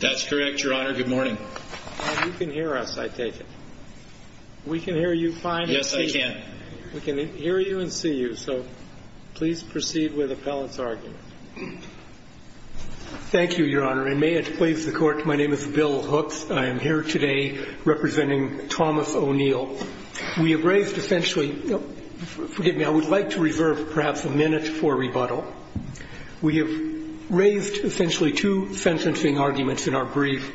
that's correct your honor good morning you can hear us I take it we can hear you fine yes I can we can hear you and see you so please proceed with appellants argument thank you your honor and may it please the court my name is Bill hooks I am here today representing Thomas O'Neill we have raised essentially forgive me I would like to reserve perhaps a minute for rebuttal we have raised essentially two sentencing arguments in our brief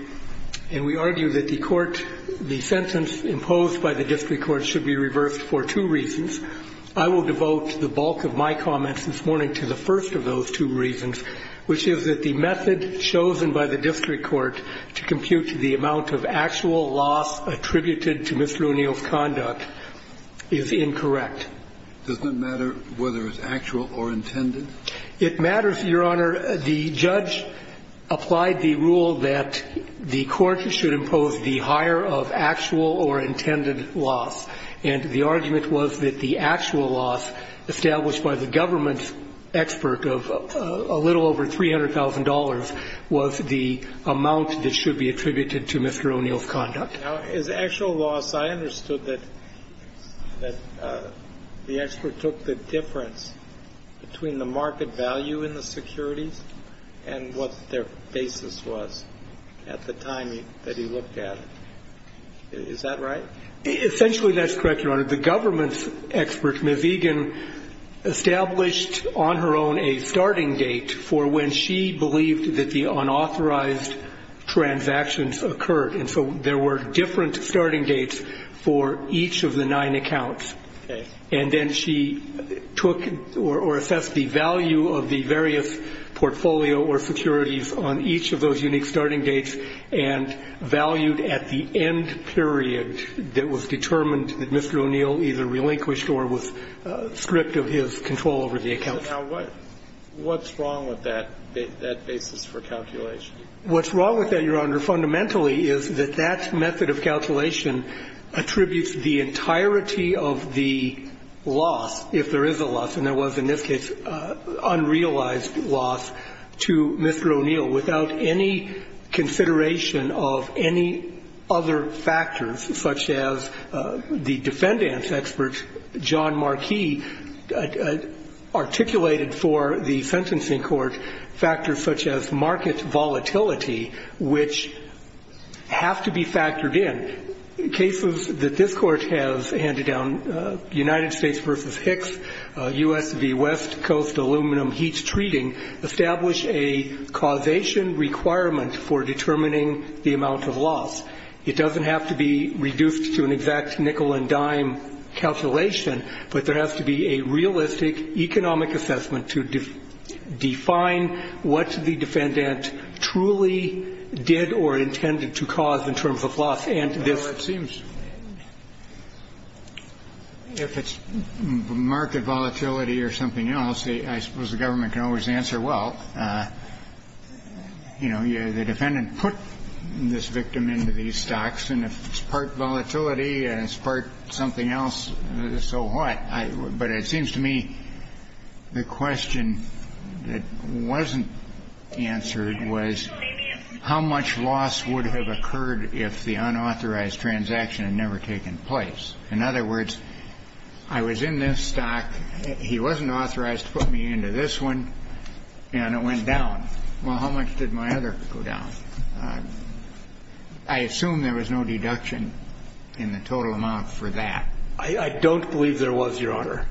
and we argue that the court the sentence imposed by the district court should be reversed for two reasons I will devote the bulk of my comments this morning to the first of those two reasons which is that the method chosen by the district court to compute the amount of actual loss attributed to Mr. O'Neill's conduct is incorrect doesn't matter whether it's applied the rule that the court should impose the higher of actual or intended loss and the argument was that the actual loss established by the government's expert of a little over $300,000 was the amount that should be attributed to Mr. O'Neill's conduct is actual loss I understood that that the expert took the difference between the market value in the securities and what their basis was at the time that he looked at it is that right essentially that's correct your honor the government's expert Ms. Egan established on her own a starting date for when she believed that the unauthorized transactions occurred and so there were different starting dates for each of the nine accounts and then she took or assessed the value of the various portfolio or securities on each of those unique starting dates and valued at the end period that was determined that Mr. O'Neill either relinquished or was stripped of his control over the account what what's wrong with that that basis for calculation what's wrong with that your honor fundamentally is that that method of calculation attributes the entirety of the loss if there is a loss and there was in this case unrealized loss to Mr. O'Neill without any consideration of any other factors such as the defendants expert John Marquis articulated for the sentencing court factors such as market volatility which have to be factored in cases that this court has handed down United States vs. Hicks US v. West Coast aluminum heat treating establish a causation requirement for determining the amount of loss it doesn't have to be reduced to an exact nickel-and-dime calculation but there has to be a truly did or intended to cause in terms of loss and this seems if it's market volatility or something else I suppose the government can always answer well you know you're the defendant put this victim into these stocks and if it's part volatility and it's part something else so what I but it seems to me the question that wasn't answered was how much loss would have occurred if the unauthorized transaction had never taken place in other words I was in this stock he wasn't authorized to put me into this one and it went down well how much did my other go down I assume there was no deduction in the total amount for that I don't believe there was your honor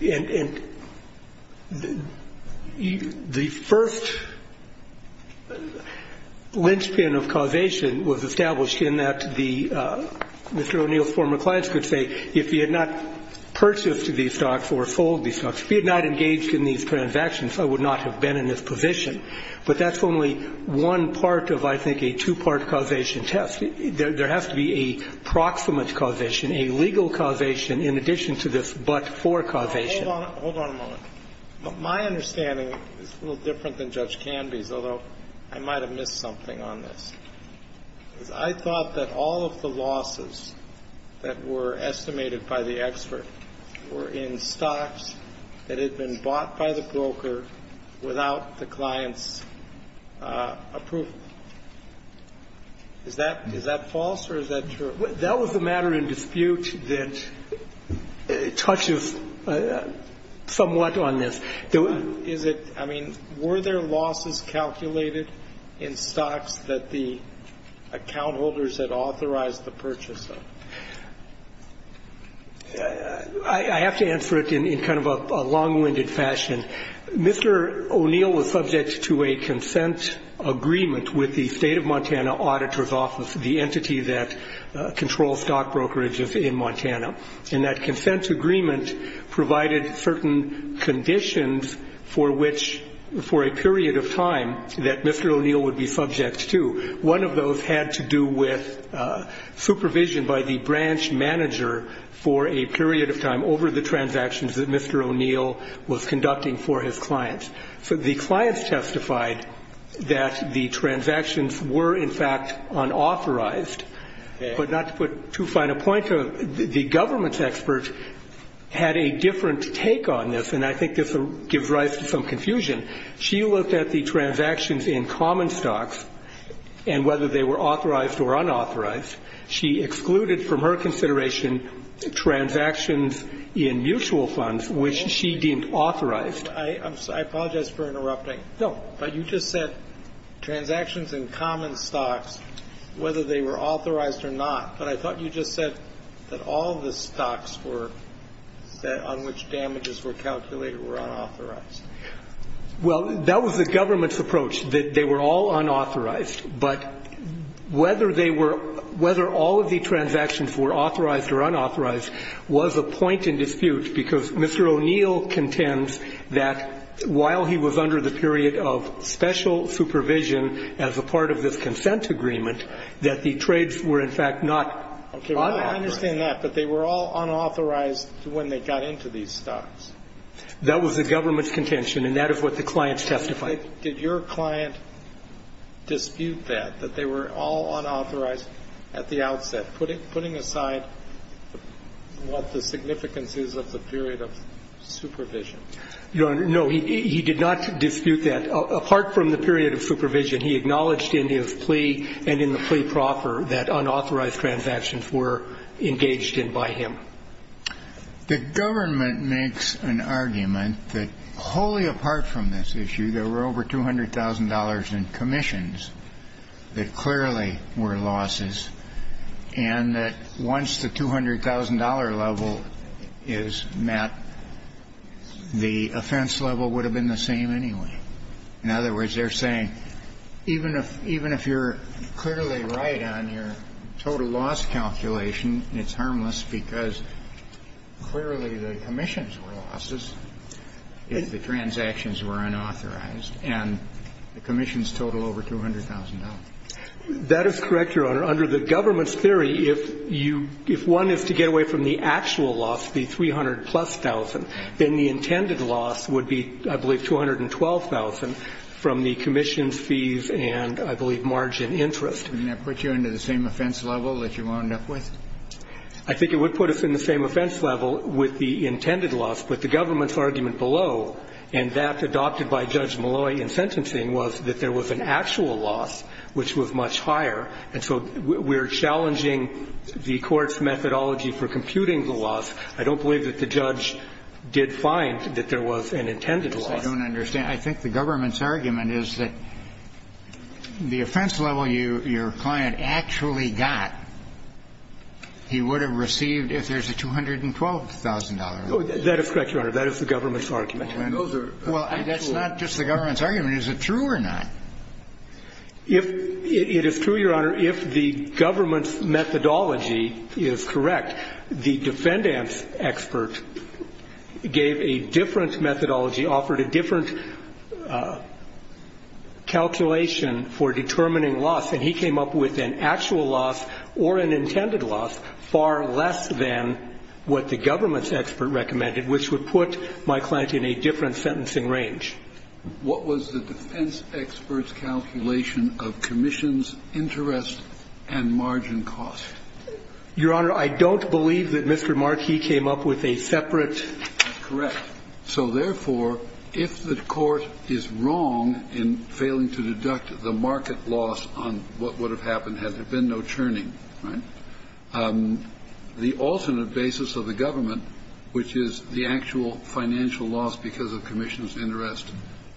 and the first linchpin of causation was established in that the mr. O'Neill's former clients could say if he had not purchased to these stocks or sold these stocks if he had not engaged in these transactions I would not have been in this position but that's only one part of I think a two-part causation test there has to be a proximate causation a legal causation in addition to this but for causation hold on a moment my understanding is a little different than judge Canby's although I might have missed something on this I thought that all of the losses that were estimated by the expert were in stocks that had been bought by the broker without the clients approval is that is that false or is that true that was the matter in dispute that touches somewhat on this though is it I mean were there losses calculated in stocks that the account holders had authorized the purchase of I have to answer it in kind of a long-winded fashion mr. O'Neill was subject to a consent agreement with the state of Montana auditors office the that control stock brokerages in Montana and that consent agreement provided certain conditions for which for a period of time that mr. O'Neill would be subject to one of those had to do with supervision by the branch manager for a period of time over the transactions that mr. O'Neill was conducting for his clients so the clients testified that the transactions were in fact unauthorized but not to put too fine a point to the government's experts had a different take on this and I think this gives rise to some confusion she looked at the transactions in common stocks and whether they were authorized or unauthorized she excluded from her consideration transactions in mutual funds which she deemed authorized I apologize for interrupting no but you just said transactions in common stocks whether they were authorized or not but I thought you just said that all the stocks were that on which damages were calculated were unauthorized well that was the government's approach that they were all unauthorized but whether they were whether all of the transactions were authorized or unauthorized was a point in dispute because mr. O'Neill contends that while he was under the period of special supervision as a part of this consent agreement that the trades were in fact not okay I understand that but they were all unauthorized when they got into these stocks that was the government's contention and that is what the clients testified did your client dispute that that they were all unauthorized at the outset putting aside what the significance is of the period of supervision no no he did not dispute that apart from the period of supervision he acknowledged in his plea and in the plea proper that unauthorized transactions were engaged in by him the government makes an argument that wholly apart from this issue there were over $200,000 in commissions that clearly were losses and that once the $200,000 level is met the offense level would have been the same anyway in other words they're saying even if even if you're clearly right on your total loss calculation it's harmless because clearly the commissions were losses if the transactions were unauthorized and the commission's total over $200,000 that is correct your honor under the government's theory if you if one is to get away from the actual loss the 300 plus thousand then the intended loss would be I believe 212,000 from the commission's fees and I believe margin interest and that puts you into the same offense level that you wound up with I think it would put us in the same offense level with the intended loss but the government's argument below and that adopted by Judge Malloy in sentencing was that there was an actual loss which was much higher and so we're challenging the court's methodology for computing the loss I don't believe that the judge did find that there was an intended loss I don't understand I think the government's argument is that the offense level you your client actually got he would have received if there's a $212,000 that is correct your honor that is the government's argument well that's not just the government's argument is it true or not if it is true your honor if the government's methodology is correct the defendant's expert gave a different methodology offered a different actual loss or an intended loss far less than what the government's expert recommended which would put my client in a different sentencing range what was the defense expert's calculation of commissions interest and margin cost your honor I don't believe that Mr. Markey came up with a separate correct so therefore if the court is wrong in failing to deduct the market loss on what would have happened if the market loss on what would have happened had there been no churning the alternate basis of the government which is the actual financial loss because of commission's interest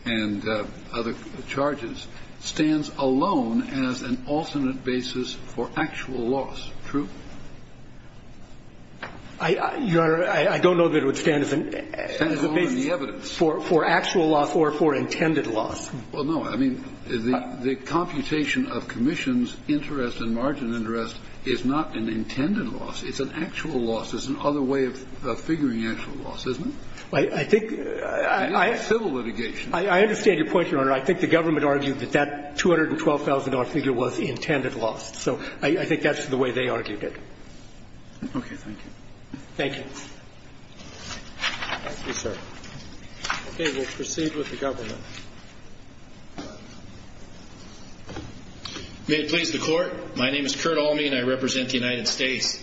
and other charges stands alone as an alternate basis for actual loss true your honor I don't know that it would stand as a basis for actual loss or for intended loss well no I mean the computation of commissions interest and margin costs interest and margin interest is not an intended loss it's an actual loss it's an other way of figuring actual loss isn't it I think I civil litigation I understand your point your honor I think the government argued that that $212,000 figure was intended loss so I think that's the way they argued it okay thank you thank you thank you sir okay we'll proceed with the government may it please the court my name is Kurt Almey and I represent the United States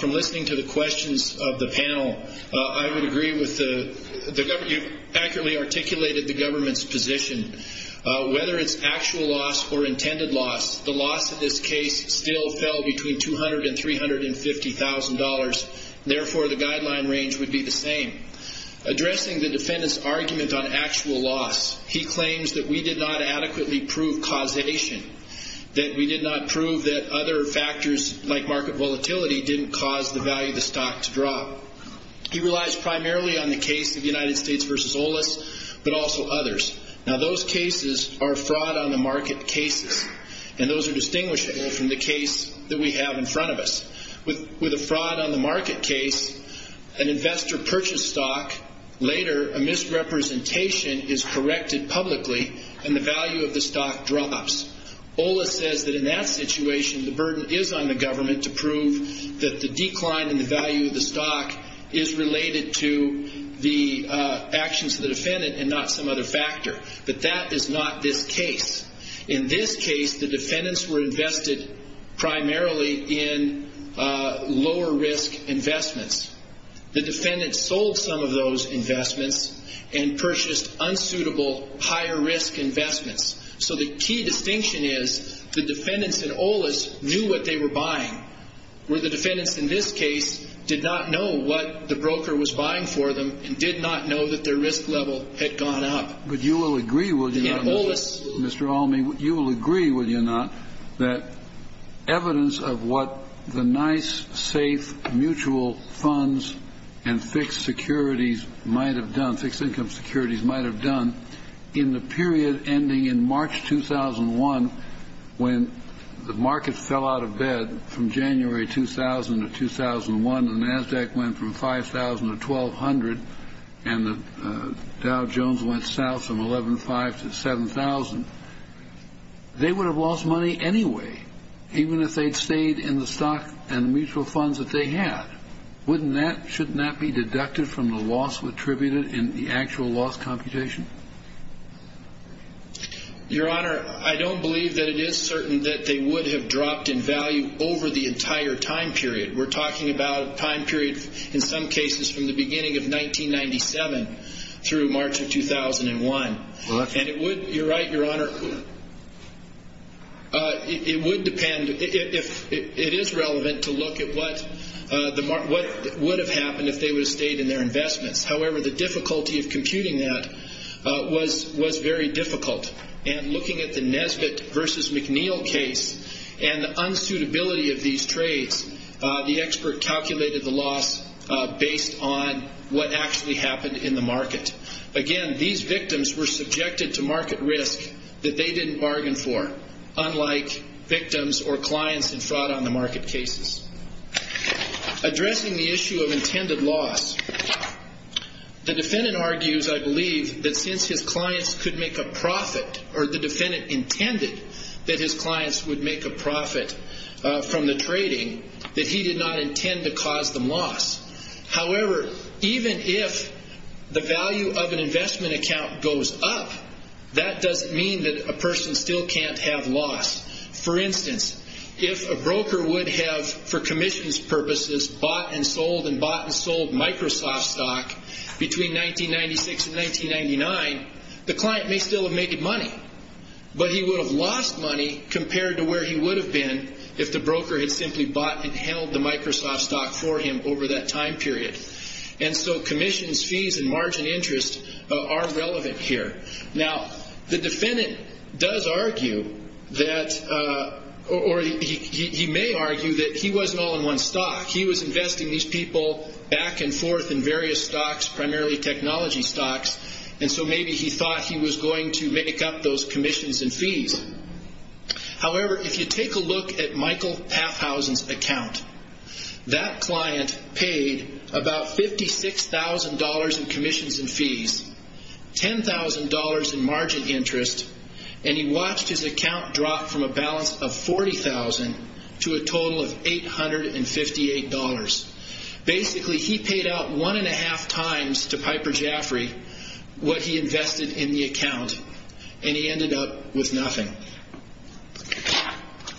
from listening to the questions of the panel I would agree with the government you've accurately articulated the government's position whether it's actual loss or intended loss the loss of this case still fell between $200,000 and $350,000 therefore the guideline range would be the same addressing the defendant's argument on actual loss he claims that we did not adequately prove causation that we did not prove that other factors like market volatility didn't cause the value of the stock to drop he relies primarily on the case of the United States vs. Olas but also others now those cases are fraud on the market cases and those are distinguishable from the case that we have in front of us with with a fraud on the market case an investor purchased stock later a misrepresentation is situation the burden is on the government to prove that the decline in the value of the stock is related to the actions of the defendant and not some other factor but that is not this case in this case the defendants were invested primarily in lower risk investments the defendant sold some of those investments and purchased unsuitable higher risk investments so the key distinction is the defendants in Olas knew what they were buying where the defendants in this case did not know what the broker was buying for them and did not know that their risk level had gone up but you will agree with you know this Mr. Almey you will agree with you not that evidence of what the nice safe mutual funds and fixed securities might have done fixed income securities might have done in the period ending in March 2001 when the market fell out of bed from January 2000 to 2001 the Nasdaq went from 5,000 to 1,200 and the Dow Jones went south from 11,500 to 7,000 they would have lost money anyway even if they'd stayed in the stock and mutual funds that they had wouldn't that shouldn't that be deducted from the loss attributed in the actual loss computation your honor I don't believe that it is certain that they would have dropped in value over the entire time period we're talking about time period in some cases from the beginning of 1997 through March 2001 and it would you're right your honor it would depend if it is relevant to look at what the mark what would have happened if they were stayed in their investments however the of computing that was was very difficult and looking at the Nesbitt versus McNeil case and the unsuitability of these trades the expert calculated the loss based on what actually happened in the market again these victims were subjected to market risk that they didn't bargain for unlike victims or clients and fraud on the market cases addressing the issue of intended loss the defendant argues I believe that since his clients could make a profit or the defendant intended that his clients would make a profit from the trading that he did not intend to cause them loss however even if the value of an investment account goes up that doesn't mean that a person still can't have loss for instance if a broker would have for Commission's purposes bought and sold and bought and sold Microsoft stock between 1996 and 1999 the client may still have made money but he would have lost money compared to where he would have been if the broker had simply bought and held the Microsoft stock for him over that time period and so Commission's fees and margin interest are relevant here now the defendant does argue that or he may argue that he back and forth in various stocks primarily technology stocks and so maybe he thought he was going to make up those Commission's and fees however if you take a look at Michael path houses account that client paid about fifty six thousand dollars in Commission's and fees ten thousand dollars in margin interest and he watched his account drop from a balance of forty thousand to a he paid out one and a half times to Piper Jaffrey what he invested in the account and he ended up with nothing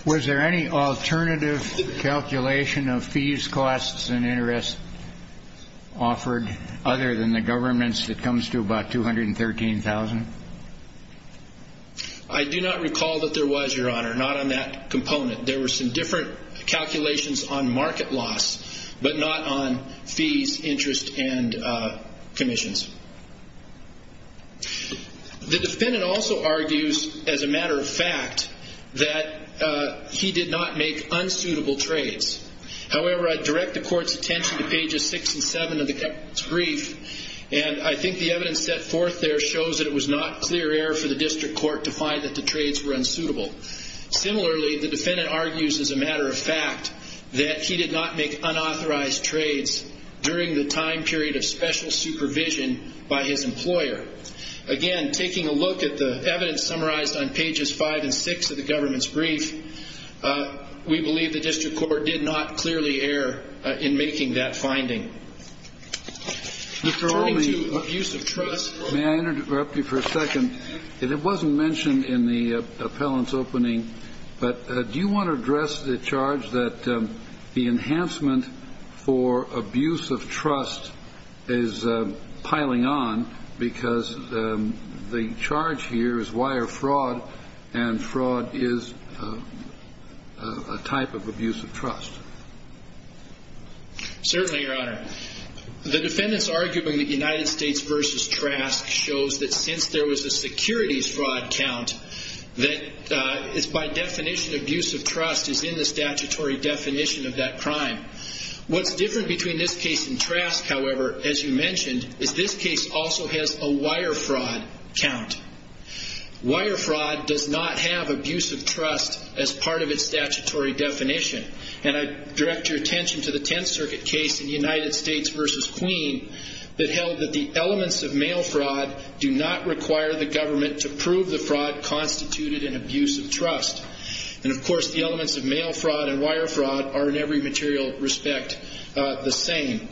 was there any alternative calculation of fees costs and interest offered other than the government's that comes to about two hundred and thirteen thousand I do not recall that there was your honor not on that component there were some different calculations on market loss but not on fees interest and Commission's the defendant also argues as a matter of fact that he did not make unsuitable trades however I direct the court's attention to pages 67 of the brief and I think the evidence set forth there shows that it was not clear error for the district court to find that the trades were unsuitable similarly the defendant argues as a matter of fact that he did not make unauthorized trades during the time period of special supervision by his employer again taking a look at the evidence summarized on pages five and six of the government's brief we believe the district court did not clearly error in making that finding Mr. Olney, may I interrupt you for a second it wasn't mentioned in the the enhancement for abuse of trust is piling on because the charge here is wire fraud and fraud is a type of abuse of trust certainly your honor the defendants arguing the United States versus Trask shows that since there was a securities fraud count that is by definition abuse of trust is in the statutory definition of that crime what's different between this case and Trask however as you mentioned is this case also has a wire fraud count wire fraud does not have abuse of trust as part of its statutory definition and I direct your attention to the Tenth Circuit case in United States versus Queen that held that the elements of mail fraud do not require the government to prove the wire fraud are in every material respect the same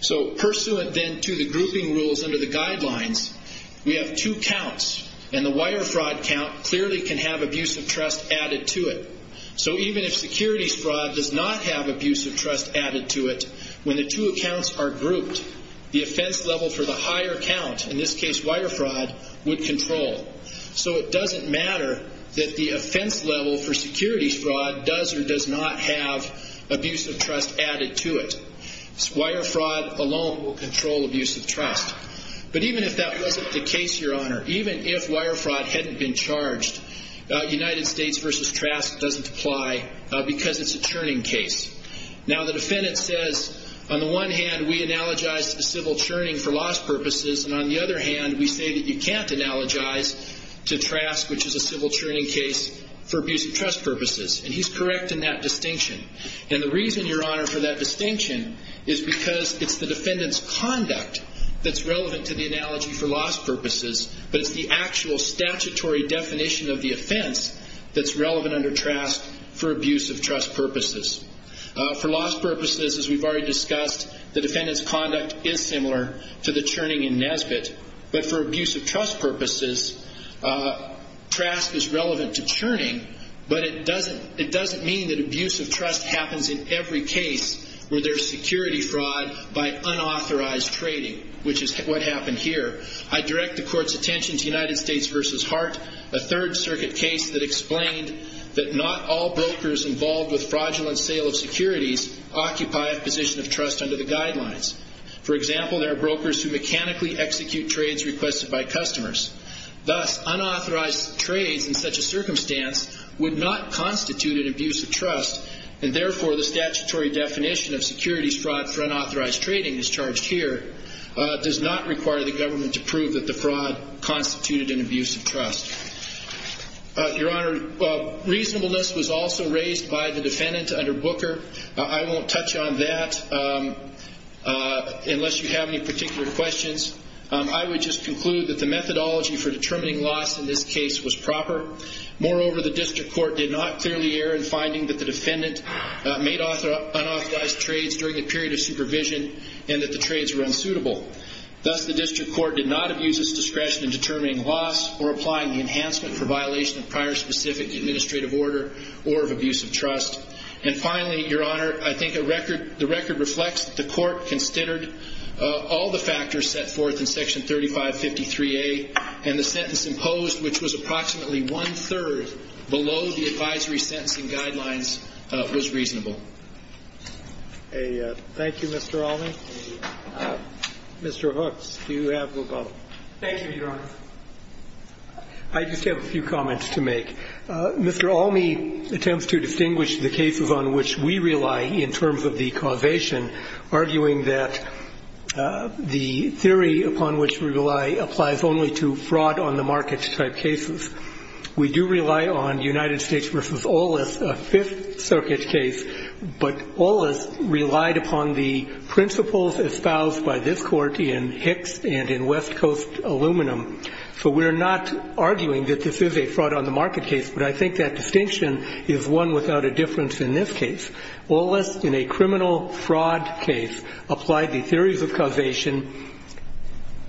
so pursuant then to the grouping rules under the guidelines we have two counts and the wire fraud count clearly can have abuse of trust added to it so even if securities fraud does not have abuse of trust added to it when the two accounts are grouped the offense level for the higher count in this case wire fraud would control so it doesn't matter that the offense level for securities fraud does or does not have abuse of trust added to it wire fraud alone will control abuse of trust but even if that wasn't the case your honor even if wire fraud hadn't been charged United States versus Trask doesn't apply because it's a churning case now the defendant says on the one hand we analogize to the civil churning for loss purposes and on the other hand we say that you can't analogize to Trask which is a civil churning case for abuse of trust purposes and he's correct in that distinction and the reason your honor for that distinction is because it's the defendants conduct that's relevant to the analogy for loss purposes but it's the actual statutory definition of the offense that's relevant under Trask for abuse of trust purposes for loss purposes as we've already discussed the defendants conduct is similar to the churning in Nesbitt but for abuse of trust purposes Trask is relevant to churning but it doesn't it doesn't mean that abuse of trust happens in every case where there's security fraud by unauthorized trading which is what happened here I direct the court's attention to United States versus Hart a Third Circuit case that explained that not all brokers involved with fraudulent sale of securities occupy a position of trust under the guidelines for example there are brokers who mechanically execute trades requested by customers thus unauthorized trades in such a circumstance would not constitute an abuse of trust and therefore the statutory definition of securities fraud for unauthorized trading is charged here does not require the government to prove that the fraud constituted an abuse of trust your honor reasonableness was also raised by the defendant under Booker I won't touch on that unless you have any particular questions I would just conclude that the methodology for determining loss in this case was proper moreover the district court did not clearly err in finding that the defendant made unauthorized trades during the period of supervision and that the trades were unsuitable thus the district court did not abuse its discretion in determining loss or applying enhancement for violation of prior specific administrative order or of abuse of trust and finally your honor I think a record the record reflects that the court considered all the factors set forth in section 3553 a and the sentence imposed which was approximately one-third below the advisory sentencing guidelines was reasonable a thank you mr. all me mr. hooks do you have a few comments to make mr. all me attempts to distinguish the cases on which we rely in terms of the causation arguing that the theory upon which we rely applies only to fraud on the market type cases we do rely on united states versus all less a fifth circuit case but all is relied upon the principles espoused by this and in west coast aluminum so we're not arguing that this is a fraud on the market case but I think that distinction is one without a difference in this case all less in a criminal fraud case apply the theories of causation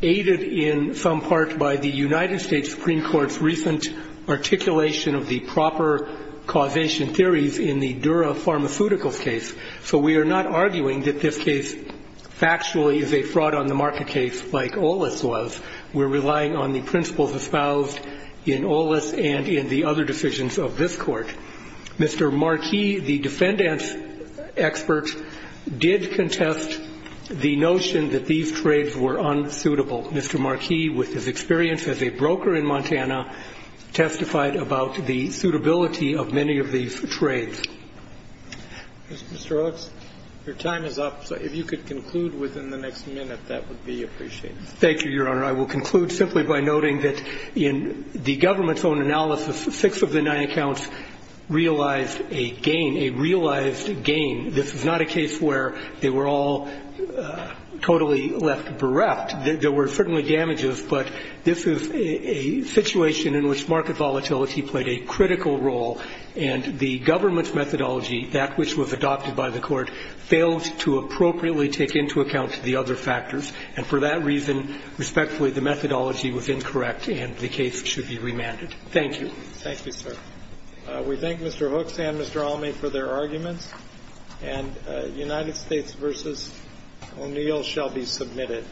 aided in some part by the United States Supreme Court's recent articulation of the proper causation theories in the dura pharmaceuticals case so we are not arguing that this case factually is a fraud on the market case like all this was we're relying on the principles espoused in all this and in the other decisions of this court mr. Marquis the defendants experts did contest the notion that these trades were unsuitable mr. Marquis with his experience as a broker in Montana testified about the suitability of many of these trades your time is up so if you could conclude within the next minute that would be appreciated thank you your honor I will conclude simply by noting that in the government's own analysis of six of the nine accounts realized a gain a realized gain this is not a case where they were all totally left bereft there were certainly damages but this is a situation in which market volatility played a critical role and the government's methodology that which was adopted by the court failed to appropriately take into account the other factors and for that reason respectfully the methodology was incorrect and the case should be remanded thank you thank you sir we thank mr. Hooks and mr. Almey for their arguments and United States versus O'Neill shall be submitted